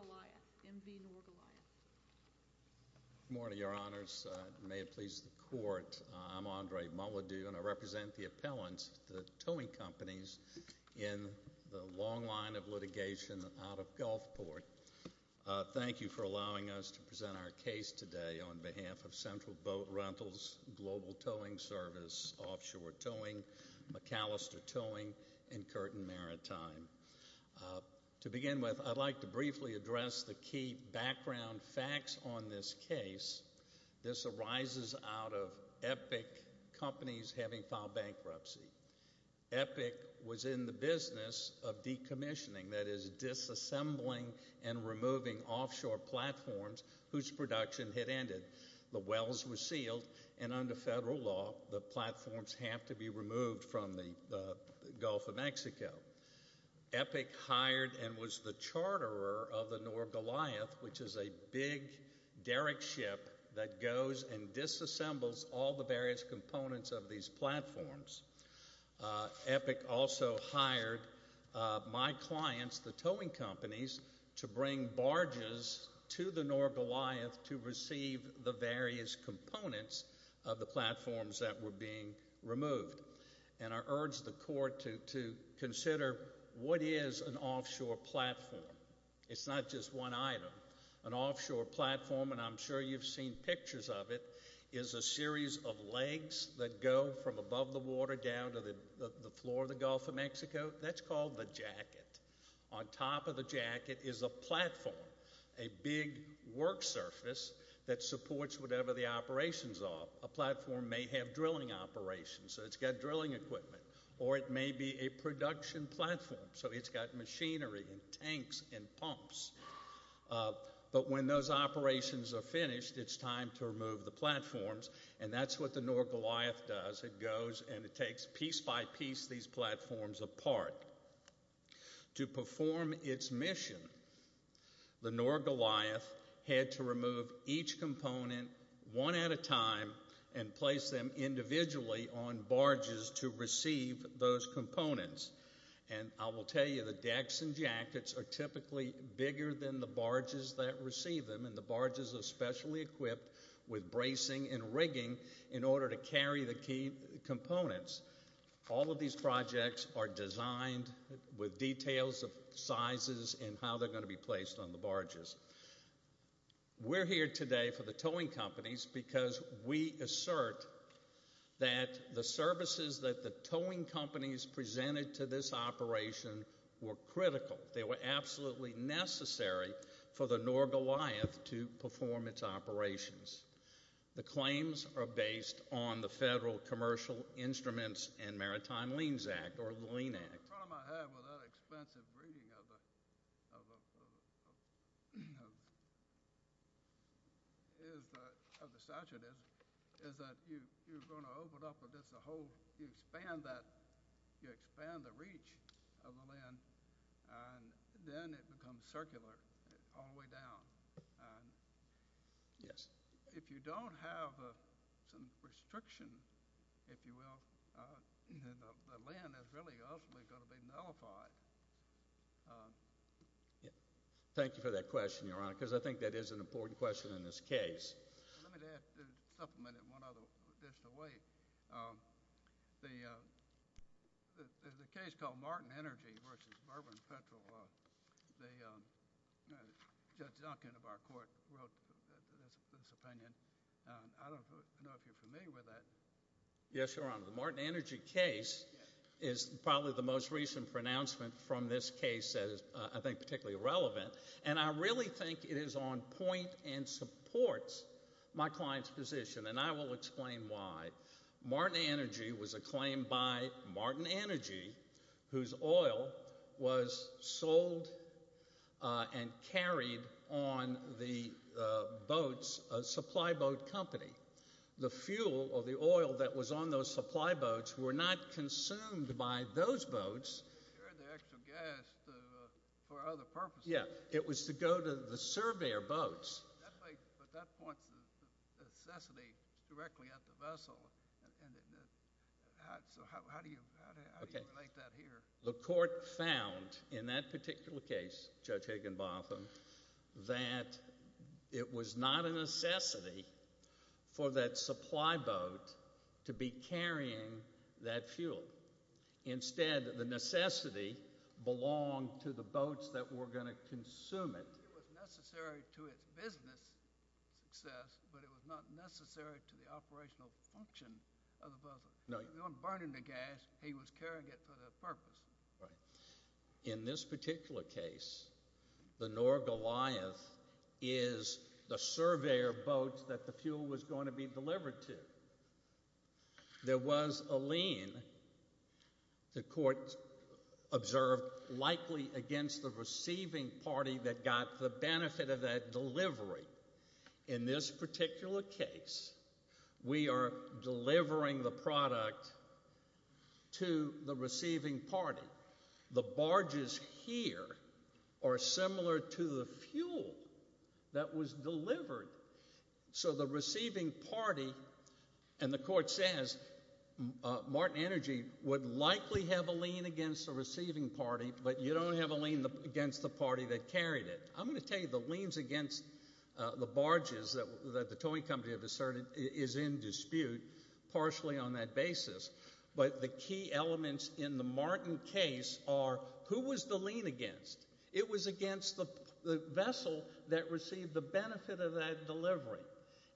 M.V. Nor Goliath Good morning, Your Honors. May it please the Court, I'm Andre Mulledy and I represent the appellants, the towing companies, in the long line of litigation out of Gulfport. Thank you for allowing us to present our case today on behalf of Central Boat Rentals, Global Towing Service, Offshore Towing, McAllister Towing, and Curtin Maritime. To begin with, I'd like to briefly address the key background facts on this case. This arises out of Epic Companies having filed bankruptcy. Epic was in the business of decommissioning, that is, disassembling and removing offshore platforms whose production had ended. The wells were sealed, and under federal law, the platforms have to be removed from the Gulf of Mexico. Epic hired and was the charterer of the Nor Goliath, which is a big derrick ship that goes and disassembles all the various components of these platforms. Epic also hired my clients, the towing companies, to bring barges to the Nor Goliath to receive the various components of the platforms that were being removed. I urge the court to consider what is an offshore platform. It's not just one item. An offshore platform, and I'm sure you've seen pictures of it, is a series of legs that go from above the water down to the floor of the Gulf of Mexico. That's called the jacket. On top of the jacket is a platform, a big work surface that supports whatever the operations are. A platform may have drilling operations, so it's got drilling equipment, or it may be a production platform, so it's got machinery and tanks and pumps. But when those operations are finished, it's time to remove the platforms, and that's what the Nor Goliath does. It goes and it takes piece by piece these platforms apart. To perform its mission, the Nor Goliath had to remove each component one at a time and place them individually on barges to receive those components. I will tell you the decks and jackets are typically bigger than the barges that receive them, and the barges are specially equipped with bracing and rigging in order to carry the key components. All of these projects are designed with details of sizes and how they're going to be placed on the barges. We're here today for the towing companies because we assert that the services that the towing companies presented to this operation were critical. They were absolutely necessary for the Nor Goliath to perform its operations. The claims are based on the Federal Commercial Instruments and Maritime Liens Act, or the Lien Act. The problem I have with that expensive rigging of the statute is that you expand the reach of the Lien, and then it becomes circular all the way down. If you don't have some restriction, if you will, the Lien is really ultimately going to be nullified. Thank you for that question, Your Honor, because I think that is an important question in this case. Let me supplement it one other way. The case called Martin Energy v. Bourbon Petrol, Judge Duncan of our court wrote this opinion. I don't know if you're familiar with that. Yes, Your Honor. The Martin Energy case is probably the most recent pronouncement from this case that is, I think, particularly relevant. I really think it is on point and supports my client's position. I will explain why. Martin Energy was a claim by Martin Energy, whose oil was sold and carried on the boats, a supply boat company. The fuel or the oil that was on those supply boats were not consumed by those boats. They carried the extra gas for other purposes. Yes, it was to go to the surveyor boats. But that points to the necessity directly at the vessel. So how do you relate that here? The court found in that particular case, Judge Higginbotham, that it was not a necessity for that supply boat to be carrying that fuel. Instead, the necessity belonged to the boats that were going to consume it. It was necessary to its business success, but it was not necessary to the operational function of the vessel. They weren't burning the gas. He was carrying it for that purpose. Right. In this particular case, the Norgoliath is the surveyor boat that the fuel was going to be delivered to. There was a lien, the court observed, likely against the receiving party that got the benefit of that delivery. In this particular case, we are delivering the product to the receiving party. The barges here are similar to the fuel that was delivered. So the receiving party, and the court says Martin Energy would likely have a lien against the receiving party, but you don't have a lien against the party that carried it. I'm going to tell you the liens against the barges that the towing company has asserted is in dispute partially on that basis. But the key elements in the Martin case are who was the lien against? It was against the vessel that received the benefit of that delivery.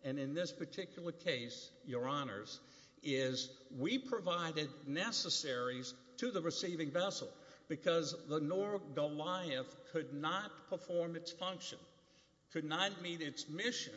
And in this particular case, your honors, is we provided necessaries to the receiving vessel because the Norgoliath could not perform its function, could not meet its mission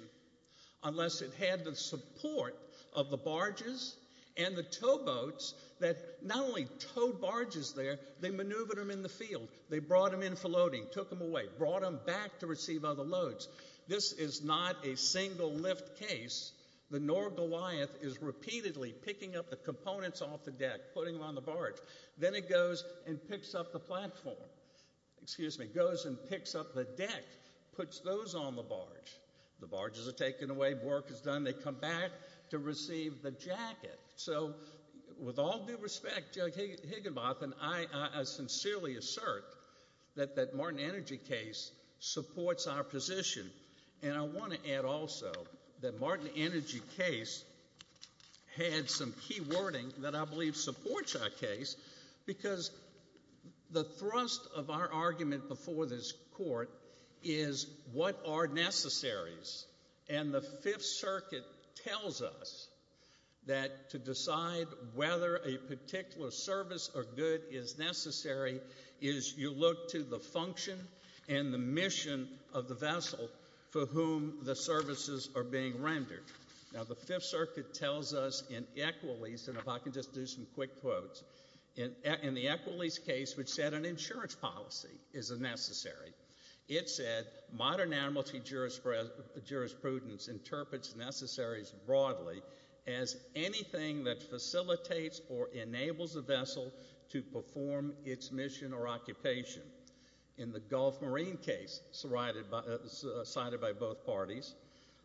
unless it had the support of the barges and the towboats that not only towed barges there, they maneuvered them in the field. They brought them in for loading, took them away, brought them back to receive other loads. This is not a single lift case. The Norgoliath is repeatedly picking up the components off the deck, putting them on the barge. Then it goes and picks up the platform. Excuse me, goes and picks up the deck, puts those on the barge. The barges are taken away. Work is done. They come back to receive the jacket. So with all due respect, Judge Higginbotham, I sincerely assert that that Martin Energy case supports our position. And I want to add also that Martin Energy case had some key wording that I believe supports our case because the thrust of our argument before this court is what are necessaries. And the Fifth Circuit tells us that to decide whether a particular service or good is necessary is you look to the function and the mission of the vessel for whom the services are being rendered. Now, the Fifth Circuit tells us in Equalese, and if I can just do some quick quotes, in the Equalese case which said an insurance policy is a necessary, it said modern amnesty jurisprudence interprets necessaries broadly as anything that facilitates or enables a vessel to perform its mission or occupation. In the Gulf Marine case cited by both parties,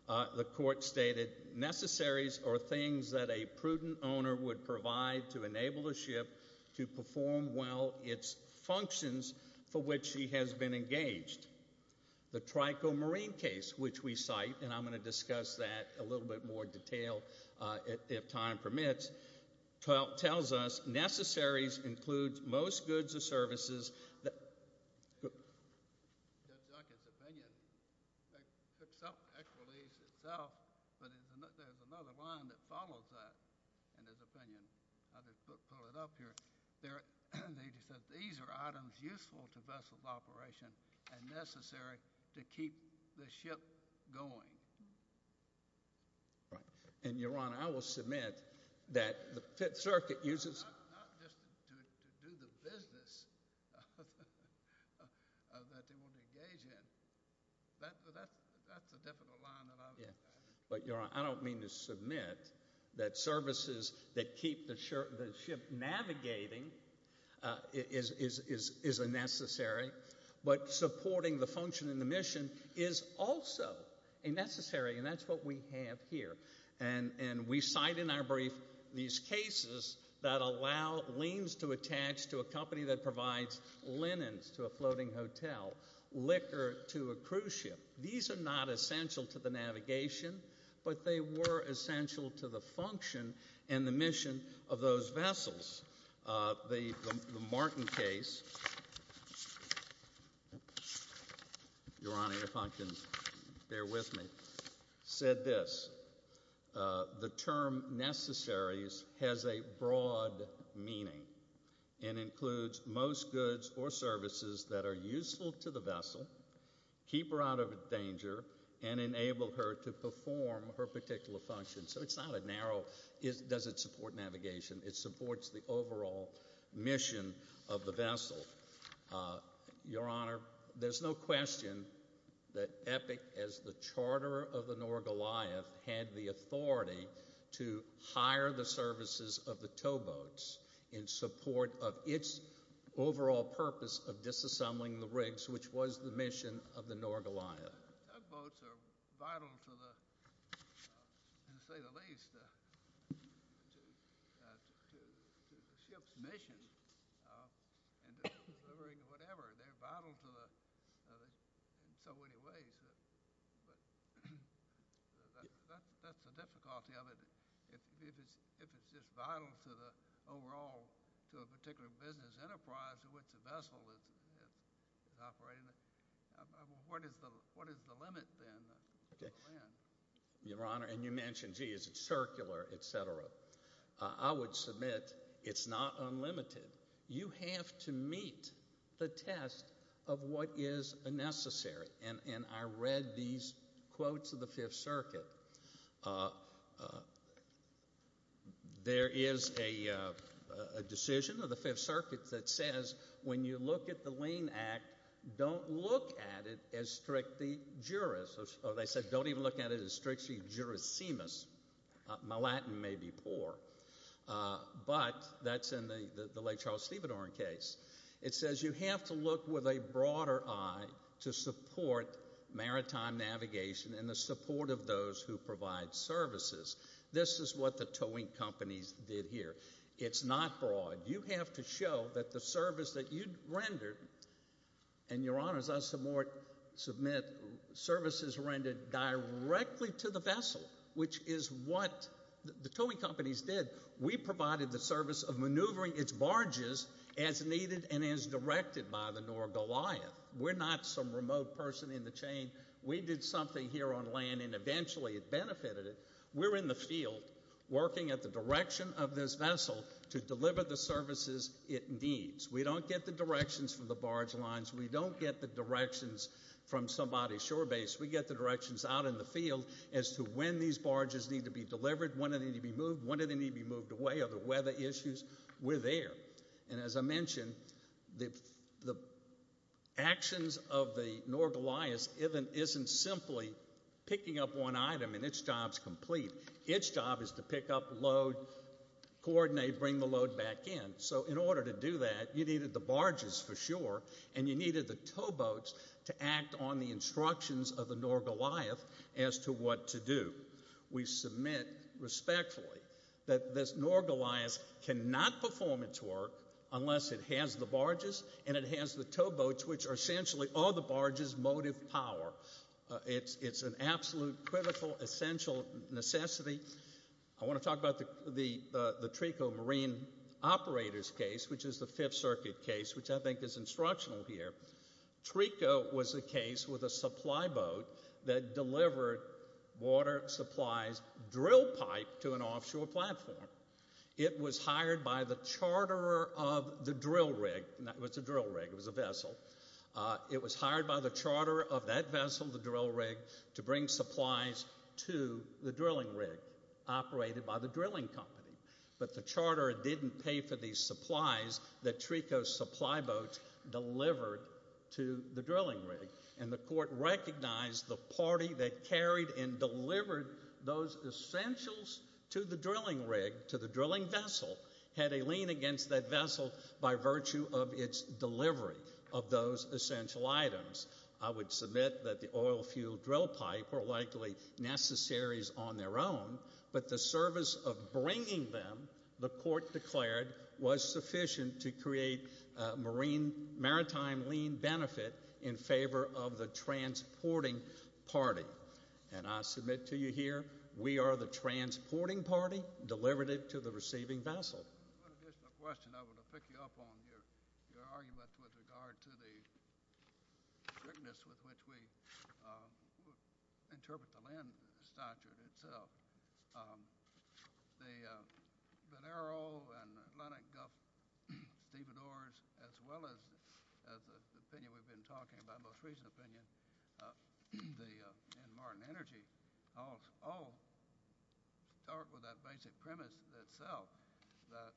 the court stated necessaries are things that a prudent owner would provide to enable a ship to perform well its functions for which he has been engaged. The Trico Marine case which we cite, and I'm going to discuss that in a little bit more detail if time permits, tells us necessaries include most goods or services. In Ted Jockett's opinion, Equalese itself, but there's another line that follows that in his opinion. I'll just pull it up here. They said these are items useful to vessels operation and necessary to keep the ship going. Right. And, Your Honor, I will submit that the Fifth Circuit uses... Not just to do the business that they would engage in. That's a definite line that I would... But, Your Honor, I don't mean to submit that services that keep the ship navigating is a necessary, but supporting the function and the mission is also a necessary, and that's what we have here. And we cite in our brief these cases that allow liens to attach to a company that provides linens to a floating hotel, liquor to a cruise ship. These are not essential to the navigation, but they were essential to the function and the mission of those vessels. The Martin case, Your Honor, if I can bear with me, said this. The term necessaries has a broad meaning and includes most goods or services that are useful to the vessel, keep her out of danger, and enable her to perform her particular function. So it's not a narrow... Does it support navigation? It supports the overall mission of the vessel. Your Honor, there's no question that Epic, as the charterer of the North Goliath, had the authority to hire the services of the towboats in support of its overall purpose of disassembling the rigs, which was the mission of the North Goliath. Towboats are vital to the, to say the least, to the ship's mission and to delivering whatever. They're vital in so many ways, but that's the difficulty of it. If it's just vital to the overall, to a particular business enterprise in which the vessel is operating, what is the limit then? Your Honor, and you mentioned, gee, is it circular, et cetera. I would submit it's not unlimited. You have to meet the test of what is necessary. And I read these quotes of the Fifth Circuit. There is a decision of the Fifth Circuit that says when you look at the Lane Act, don't look at it as strictly juris. Or they said don't even look at it as strictly jurisemus. My Latin may be poor. But that's in the late Charles Stevedorn case. It says you have to look with a broader eye to support maritime navigation and the support of those who provide services. This is what the towing companies did here. It's not broad. You have to show that the service that you rendered, and, Your Honor, as I submit, services rendered directly to the vessel, which is what the towing companies did. We provided the service of maneuvering its barges as needed and as directed by the North Goliath. We're not some remote person in the chain. We did something here on land, and eventually it benefited it. We're in the field working at the direction of this vessel to deliver the services it needs. We don't get the directions from the barge lines. We don't get the directions from somebody's shore base. We get the directions out in the field as to when these barges need to be delivered, when they need to be moved, when they need to be moved away, other weather issues. We're there. And as I mentioned, the actions of the North Goliath isn't simply picking up one item and its job is complete. Its job is to pick up load, coordinate, bring the load back in. So in order to do that, you needed the barges for sure, and you needed the towboats to act on the instructions of the North Goliath as to what to do. We submit respectfully that this North Goliath cannot perform its work unless it has the barges and it has the towboats, which are essentially all the barges' motive power. It's an absolute, critical, essential necessity. I want to talk about the Trico Marine Operators case, which is the Fifth Circuit case, which I think is instructional here. Trico was a case with a supply boat that delivered water supplies drill pipe to an offshore platform. It was hired by the charterer of the drill rig. It was a drill rig. It was a vessel. It was hired by the charterer of that vessel, the drill rig, to bring supplies to the drilling rig operated by the drilling company. But the charterer didn't pay for these supplies that Trico's supply boat delivered to the drilling rig, and the court recognized the party that carried and delivered those essentials to the drilling rig, to the drilling vessel, had a lien against that vessel by virtue of its delivery of those essential items. I would submit that the oil fuel drill pipe were likely necessaries on their own, but the service of bringing them, the court declared, was sufficient to create a maritime lien benefit in favor of the transporting party. And I submit to you here, we are the transporting party delivered it to the receiving vessel. One additional question I want to pick you up on your argument with regard to the strictness with which we interpret the land statute itself. The Venero and Atlantic Gulf stevedores, as well as the opinion we've been talking about, the most recent opinion, the Martin Energy, all start with that basic premise itself, that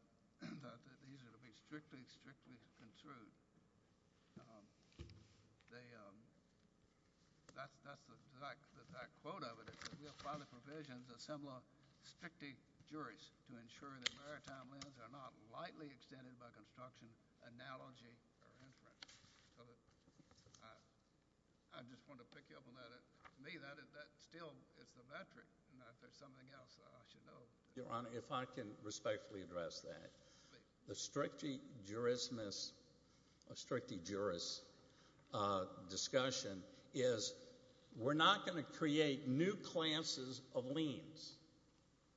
these are to be strictly, strictly construed. That quote of it is that we apply the provisions of similar strictly juries to ensure that maritime liens are not lightly extended by construction, analogy, or inference. I just want to pick you up on that. To me, that still is the metric. If there's something else I should know. Your Honor, if I can respectfully address that. The strictly jurist discussion is we're not going to create new classes of liens.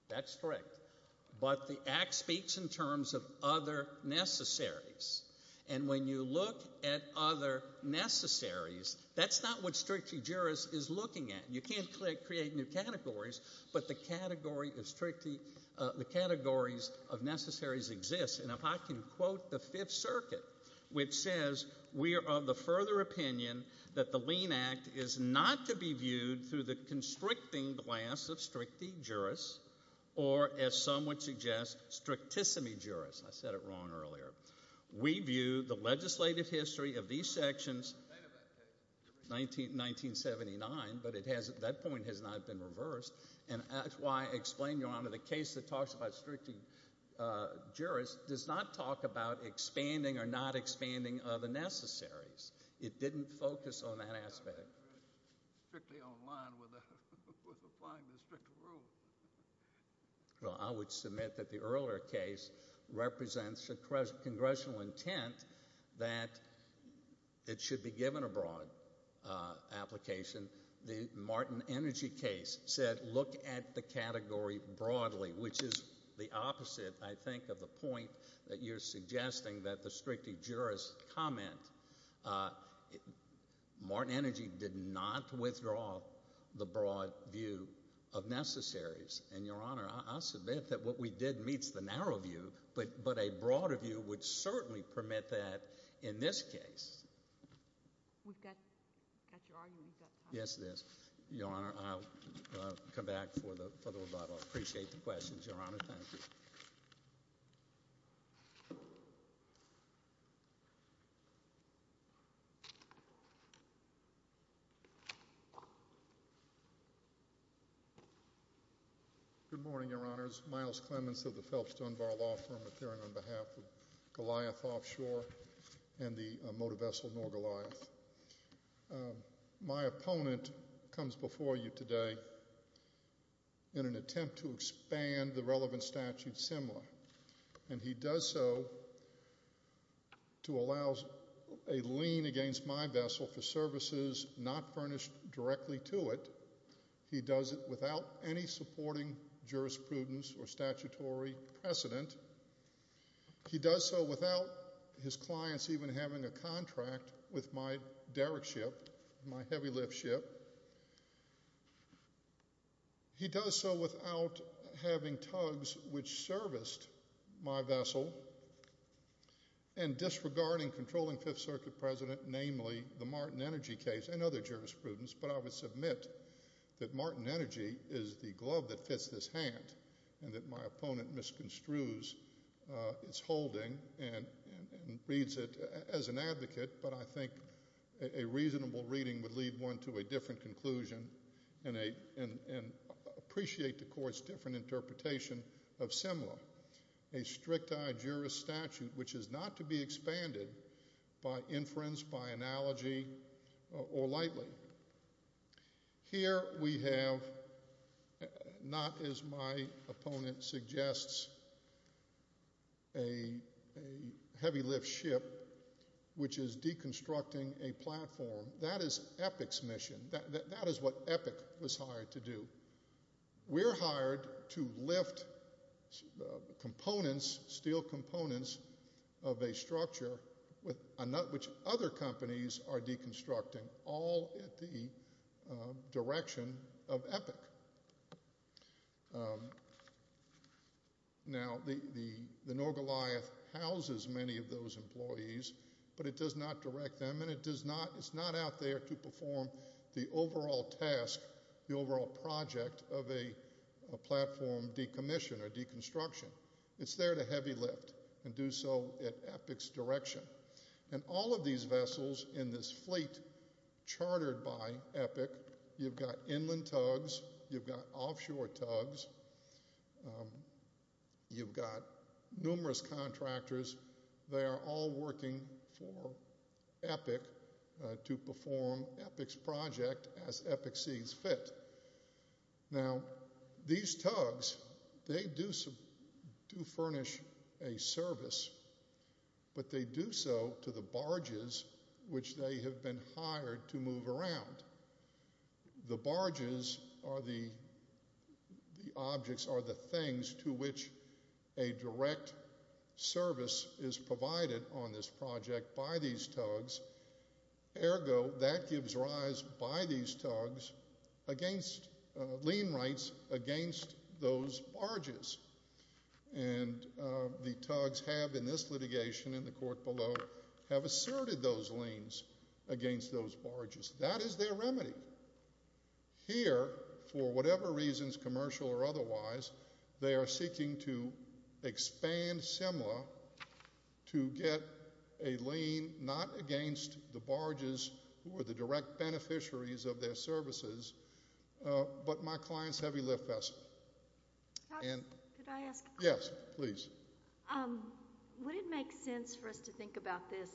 That's correct. But the Act speaks in terms of other necessaries. And when you look at other necessaries, that's not what strictly jurist is looking at. You can't create new categories, but the categories of necessaries exist. And if I can quote the Fifth Circuit, which says we are of the further opinion that the lien act is not to be viewed through the constricting glass of strictly jurist or, as some would suggest, strictissimi jurist. I said it wrong earlier. We view the legislative history of these sections, 1979, but that point has not been reversed. And that's why I explained, Your Honor, the case that talks about strictly jurist does not talk about expanding or not expanding the necessaries. It didn't focus on that aspect. Strictly online with applying the strict rule. Well, I would submit that the earlier case represents a congressional intent that it should be given a broad application. The Martin Energy case said look at the category broadly, which is the opposite, I think, of the point that you're suggesting that the strictly jurist comment. Martin Energy did not withdraw the broad view of necessaries. And, Your Honor, I'll submit that what we did meets the narrow view, but a broader view would certainly permit that in this case. We've got your argument. Yes, it is. Your Honor, I'll come back for the rebuttal. I appreciate the questions, Your Honor. Thank you. Good morning, Your Honors. Myles Clements of the Phelps Dunbar Law Firm appearing on behalf of Goliath Offshore and the motor vessel North Goliath. My opponent comes before you today in an attempt to expand the relevant statute similar. And he does so to allow a lien against my vessel for services not furnished directly to it. He does it without any supporting jurisprudence or statutory precedent. He does so without his clients even having a contract with my derrick ship, my heavy lift ship. He does so without having tugs which serviced my vessel and disregarding controlling Fifth Circuit President, namely the Martin Energy case and other jurisprudence. But I would submit that Martin Energy is the glove that fits this hand and that my opponent misconstrues its holding and reads it as an advocate. But I think a reasonable reading would lead one to a different conclusion and appreciate the court's different interpretation of similar. A strict jurist statute which is not to be expanded by inference, by analogy or lightly. Here we have, not as my opponent suggests, a heavy lift ship which is deconstructing a platform. That is Epic's mission. That is what Epic was hired to do. We're hired to lift components, steel components of a structure which other companies are deconstructing all at the direction of Epic. Now the Norgoliath houses many of those employees but it does not direct them and it's not out there to perform the overall task, the overall project of a platform decommission or deconstruction. It's there to heavy lift and do so at Epic's direction. And all of these vessels in this fleet chartered by Epic, you've got inland tugs, you've got offshore tugs, you've got numerous contractors. They are all working for Epic to perform Epic's project as Epic sees fit. Now these tugs, they do furnish a service but they do so to the barges which they have been hired to move around. The barges are the objects or the things to which a direct service is provided on this project by these tugs. Ergo that gives rise by these tugs against, lien rights against those barges. And the tugs have in this litigation in the court below have asserted those liens against those barges. That is their remedy. Here for whatever reasons, commercial or otherwise, they are seeking to expand similar to get a lien not against the barges who are the direct beneficiaries of their services but my client's heavy lift vessel. Could I ask a question? Yes, please. Would it make sense for us to think about this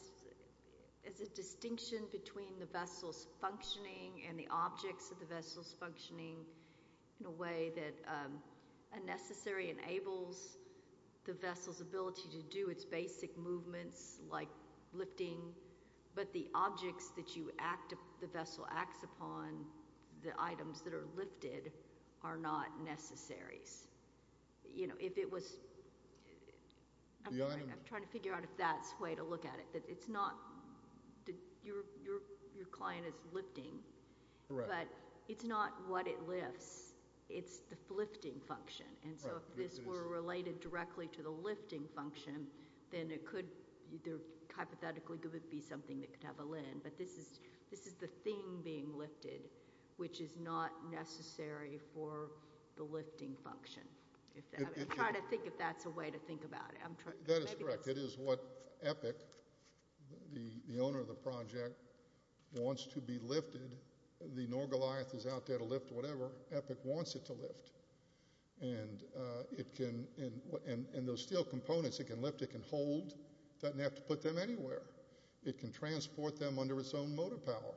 as a distinction between the vessel's functioning and the objects of the vessel's functioning in a way that a necessary enables the vessel's ability to do its basic movements like lifting. But the objects that the vessel acts upon, the items that are lifted are not necessaries. You know if it was, I'm trying to figure out if that's the way to look at it. It's not, your client is lifting but it's not what it lifts. It's the lifting function. And so if this were related directly to the lifting function, then it could, hypothetically it could be something that could have a lien. But this is the thing being lifted which is not necessary for the lifting function. I'm trying to think if that's a way to think about it. That is correct. It is what Epic, the owner of the project, wants to be lifted. The Norgoliath is out there to lift whatever. Epic wants it to lift. And it can, and those steel components it can lift, it can hold. It doesn't have to put them anywhere. It can transport them under its own motor power.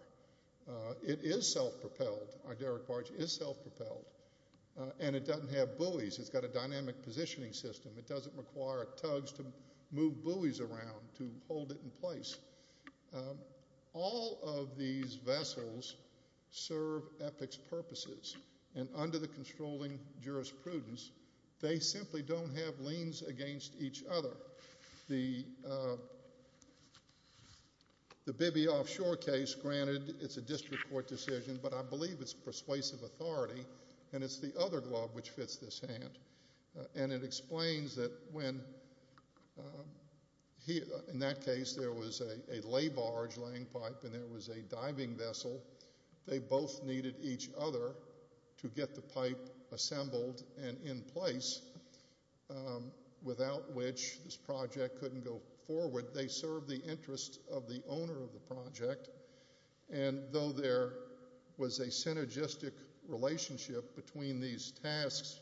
It is self-propelled. Our derrick barge is self-propelled. And it doesn't have buoys. It's got a dynamic positioning system. It doesn't require tugs to move buoys around to hold it in place. All of these vessels serve Epic's purposes. And under the controlling jurisprudence, they simply don't have liens against each other. The Bibby offshore case, granted it's a district court decision, but I believe it's persuasive authority. And it's the other glob which fits this hand. And it explains that when, in that case, there was a lay barge laying pipe and there was a diving vessel, they both needed each other to get the pipe assembled and in place, without which this project couldn't go forward. They serve the interests of the owner of the project. And though there was a synergistic relationship between these tasks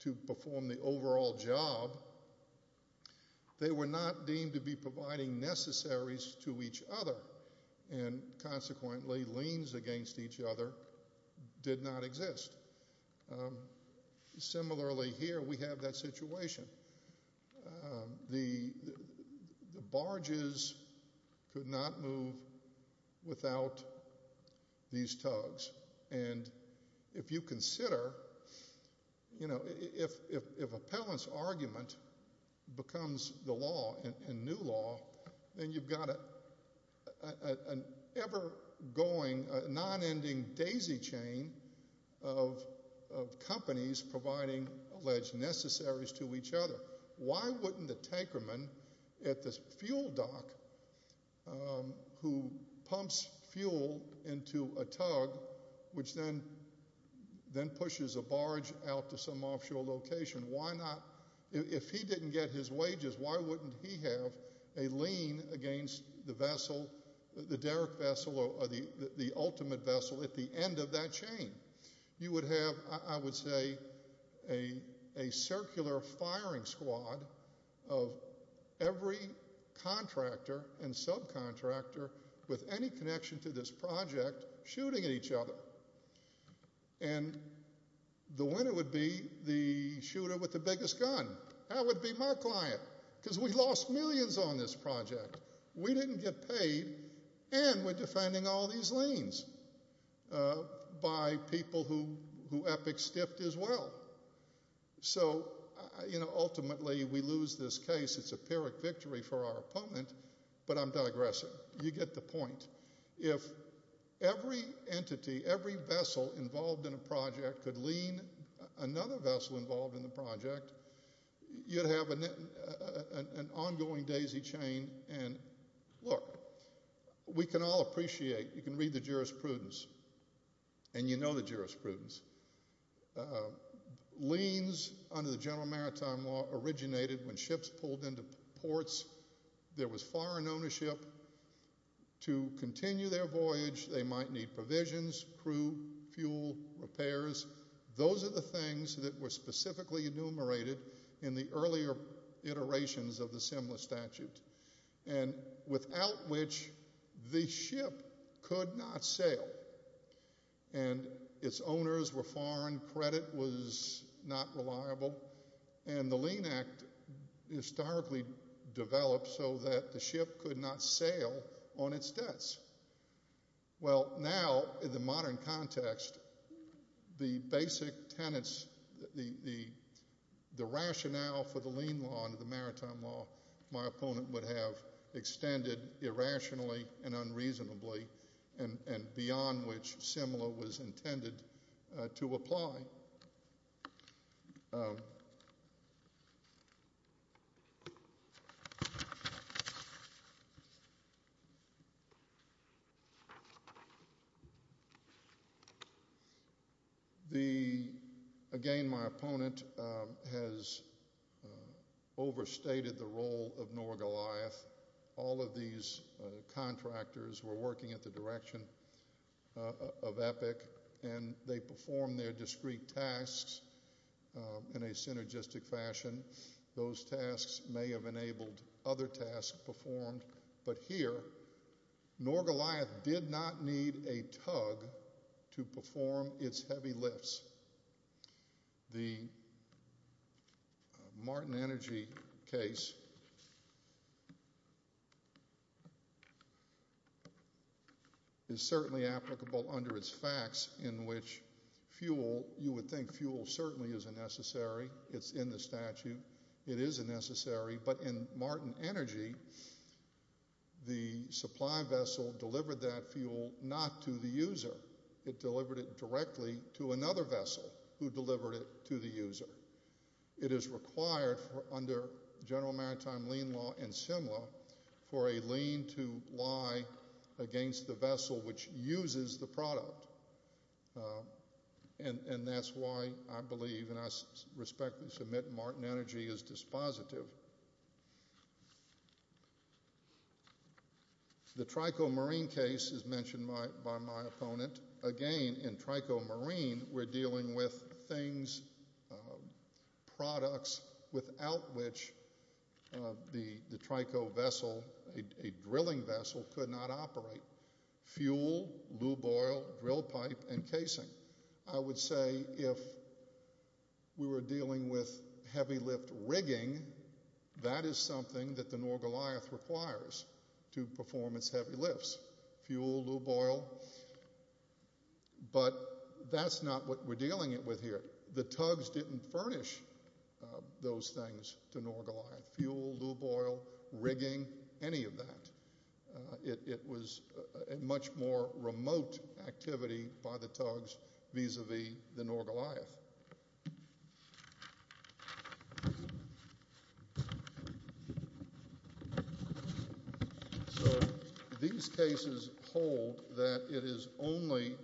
to perform the overall job, they were not deemed to be providing necessaries to each other. And consequently, liens against each other did not exist. Similarly here, we have that situation. The barges could not move without these tugs. And if you consider, you know, if appellant's argument becomes the law and new law, then you've got an ever-going, non-ending daisy chain of companies providing alleged necessaries to each other. Why wouldn't the tanker man at the fuel dock, who pumps fuel into a tug, which then pushes a barge out to some offshore location, why not? If he didn't get his wages, why wouldn't he have a lien against the vessel, the derrick vessel, or the ultimate vessel at the end of that chain? You would have, I would say, a circular firing squad of every contractor and subcontractor with any connection to this project shooting at each other. And the winner would be the shooter with the biggest gun. That would be my client, because we lost millions on this project. We didn't get paid, and we're defending all these liens by people who Epic stiffed as well. So, you know, ultimately we lose this case. It's a pyrrhic victory for our opponent, but I'm digressing. You get the point. If every entity, every vessel involved in a project could lien another vessel involved in the project, you'd have an ongoing daisy chain. And, look, we can all appreciate, you can read the jurisprudence, and you know the jurisprudence, liens under the General Maritime Law originated when ships pulled into ports. There was foreign ownership to continue their voyage. They might need provisions, crew, fuel, repairs. Those are the things that were specifically enumerated in the earlier iterations of the Simla statute, and without which the ship could not sail. And its owners were foreign. Credit was not reliable. And the Lien Act historically developed so that the ship could not sail on its debts. Well, now in the modern context, the basic tenets, the rationale for the lien law under the Maritime Law my opponent would have extended irrationally and unreasonably and beyond which Simla was intended to apply. Again, my opponent has overstated the role of Norgoliath. All of these contractors were working at the direction of EPIC, and they performed their discrete tasks in a synergistic fashion. Those tasks may have enabled other tasks performed, but here Norgoliath did not need a tug to perform its heavy lifts. The Martin Energy case is certainly applicable under its facts in which fuel, you would think fuel certainly is a necessary. It's in the statute. It is a necessary, but in Martin Energy, the supply vessel delivered that fuel not to the user. It delivered it directly to another vessel who delivered it to the user. It is required under General Maritime Lien Law and Simla for a lien to lie against the vessel which uses the product, and that's why I believe and I respectfully submit Martin Energy is dispositive. The Trico Marine case is mentioned by my opponent. Again, in Trico Marine, we're dealing with things, products, without which the Trico vessel, a drilling vessel, could not operate. Fuel, lube oil, drill pipe, and casing. I would say if we were dealing with heavy lift rigging, that is something that the Norgoliath requires to perform its heavy lifts. Fuel, lube oil, but that's not what we're dealing with here. The tugs didn't furnish those things to Norgoliath. Fuel, lube oil, rigging, any of that. It was a much more remote activity by the tugs vis-a-vis the Norgoliath. These cases hold that it is only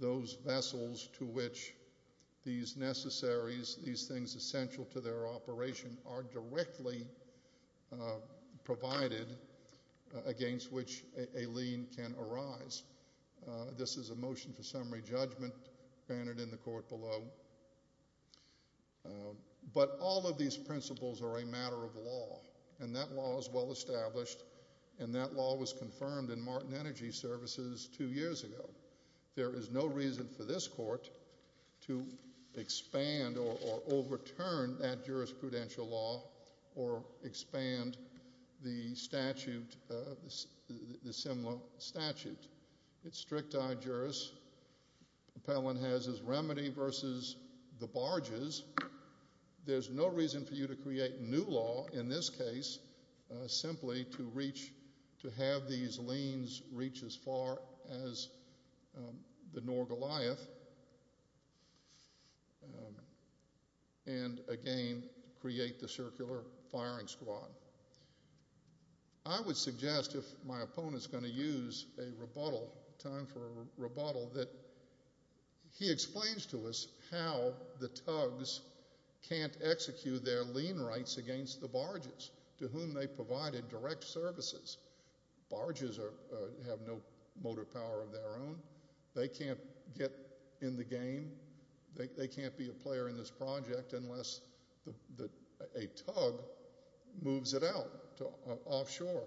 those vessels to which these necessaries, these things essential to their operation, are directly provided against which a lien can arise. This is a motion for summary judgment granted in the court below. But all of these principles are a matter of law, and that law is well established, and that law was confirmed in Martin Energy Services two years ago. There is no reason for this court to expand or overturn that jurisprudential law or expand the similar statute. It's strict I-juris. Appellant has his remedy versus the barges. There's no reason for you to create new law in this case simply to have these liens reach as far as the Norgoliath and, again, create the circular firing squad. I would suggest if my opponent's going to use a rebuttal, time for a rebuttal, that he explains to us how the tugs can't execute their lien rights against the barges to whom they provided direct services. Barges have no motor power of their own. They can't get in the game. They can't be a player in this project unless a tug moves it out offshore.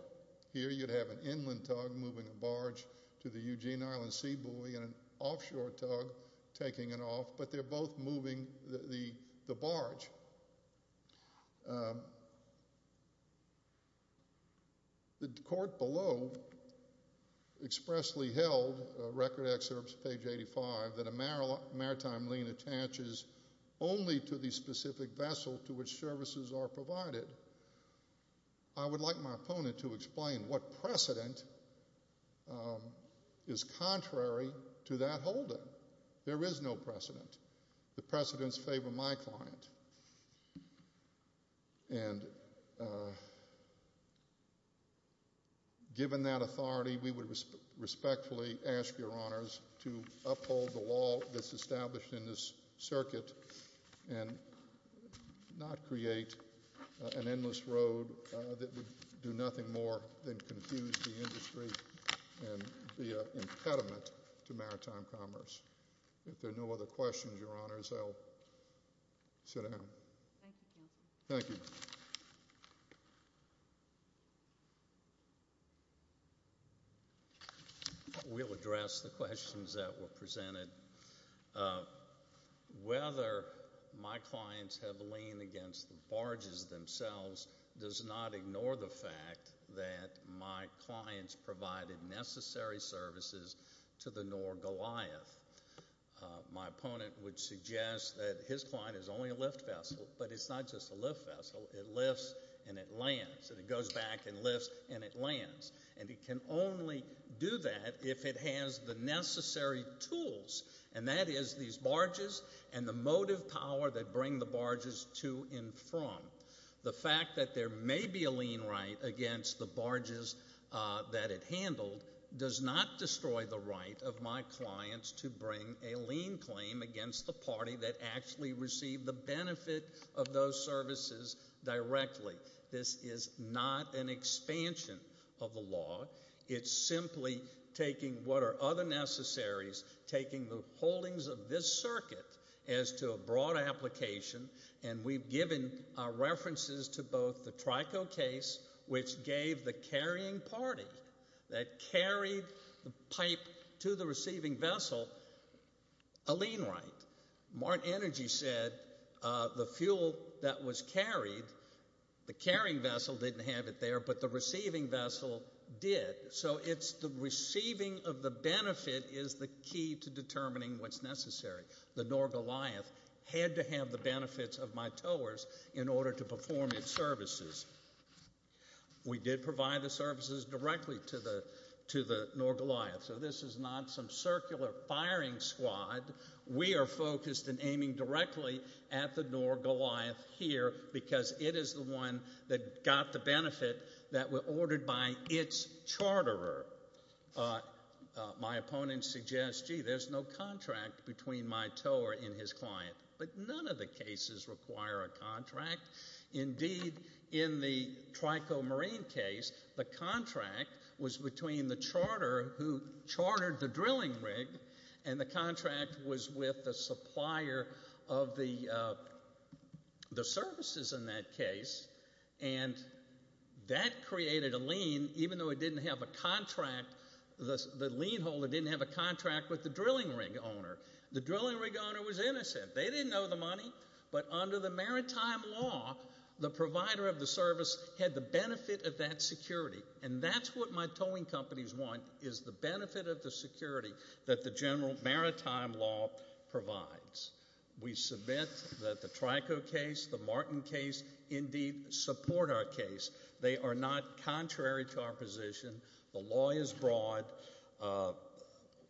Here you'd have an inland tug moving a barge to the Eugene Island Seabuoy and an offshore tug taking it off, but they're both moving the barge. The court below expressly held, record excerpts, page 85, that a maritime lien attaches only to the specific vessel to which services are provided. I would like my opponent to explain what precedent is contrary to that holding. There is no precedent. The precedents favor my client, and given that authority, we would respectfully ask your honors to uphold the law that's established in this circuit and not create an endless road that would do nothing more than confuse the industry and be an impediment to maritime commerce. If there are no other questions, your honors, I'll sit down. Thank you, Counselor. Thank you. We'll address the questions that were presented. Whether my clients have liened against the barges themselves does not ignore the fact that my clients provided necessary services to the Noor Goliath. My opponent would suggest that his client is only a lift vessel, but it's not just a lift vessel. It lifts and it lands, and it goes back and lifts and it lands. And it can only do that if it has the necessary tools, and that is these barges and the motive power that bring the barges to and from. The fact that there may be a lien right against the barges that it handled does not destroy the right of my clients to bring a lien claim against the party that actually received the benefit of those services directly. This is not an expansion of the law. It's simply taking what are other necessaries, taking the holdings of this circuit as to a broad application, and we've given our references to both the Trico case, which gave the carrying party that carried the pipe to the receiving vessel a lien right. Martin Energy said the fuel that was carried, the carrying vessel didn't have it there, but the receiving vessel did, so it's the receiving of the benefit is the key to determining what's necessary. The Noor Goliath had to have the benefits of my towers in order to perform its services. We did provide the services directly to the Noor Goliath, so this is not some circular firing squad. We are focused in aiming directly at the Noor Goliath here because it is the one that got the benefit that was ordered by its charterer. My opponent suggests, gee, there's no contract between my tower and his client, but none of the cases require a contract. Indeed, in the Trico Marine case, the contract was between the charterer who chartered the drilling rig and the contract was with the supplier of the services in that case, and that created a lien even though it didn't have a contract. The lien holder didn't have a contract with the drilling rig owner. The drilling rig owner was innocent. They didn't know the money, but under the maritime law, the provider of the service had the benefit of that security, and that's what my towing companies want is the benefit of the security that the general maritime law provides. We submit that the Trico case, the Martin case, indeed support our case. They are not contrary to our position. The law is broad.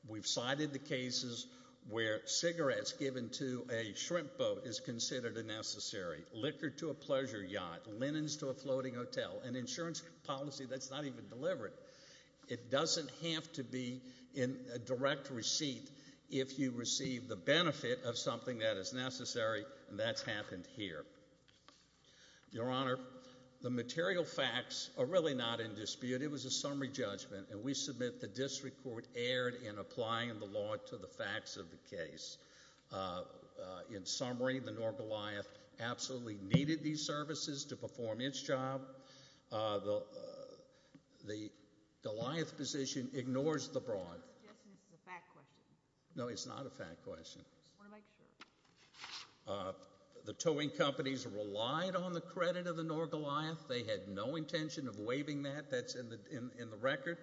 We've cited the cases where cigarettes given to a shrimp boat is considered unnecessary, liquor to a pleasure yacht, linens to a floating hotel, an insurance policy that's not even delivered. It doesn't have to be in a direct receipt if you receive the benefit of something that is necessary, and that's happened here. Your Honor, the material facts are really not in dispute. It was a summary judgment, and we submit the district court erred in applying the law to the facts of the case. In summary, the North Goliath absolutely needed these services to perform its job. Your Honor, the Goliath position ignores the broad. I'm suggesting this is a fact question. No, it's not a fact question. I want to make sure. The towing companies relied on the credit of the North Goliath. They had no intention of waiving that. That's in the record.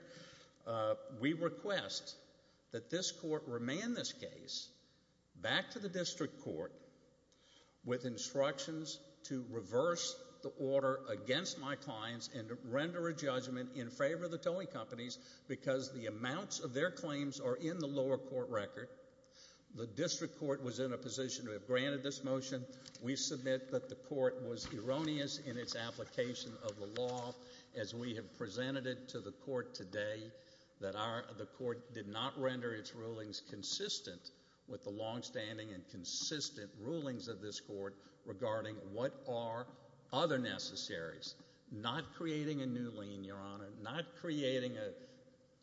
We request that this court remand this case back to the district court with instructions to reverse the order against my clients and render a judgment in favor of the towing companies because the amounts of their claims are in the lower court record. The district court was in a position to have granted this motion. We submit that the court was erroneous in its application of the law as we have presented it to the court today, that the court did not render its rulings consistent with the longstanding and consistent rulings of this court regarding what are other necessaries, not creating a new lien, Your Honor, not creating a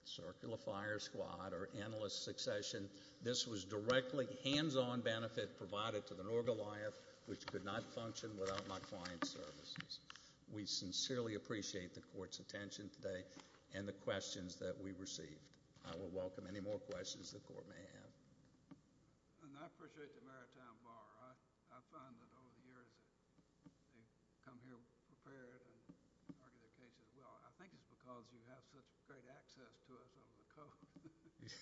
circular fire squad or analyst succession. This was directly hands-on benefit provided to the North Goliath which could not function without my client's services. We sincerely appreciate the court's attention today and the questions that we received. I will welcome any more questions the court may have. I appreciate the Maritime Bar. I find that over the years they've come here prepared and argued their case as well. I think it's because you have such great access to us on the court.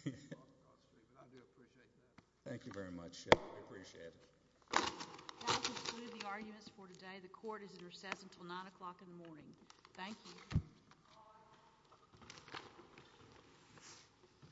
I do appreciate that. Thank you very much. We appreciate it. That will conclude the arguments for today. The court is in recess until 9 o'clock in the morning. Thank you. Thank you.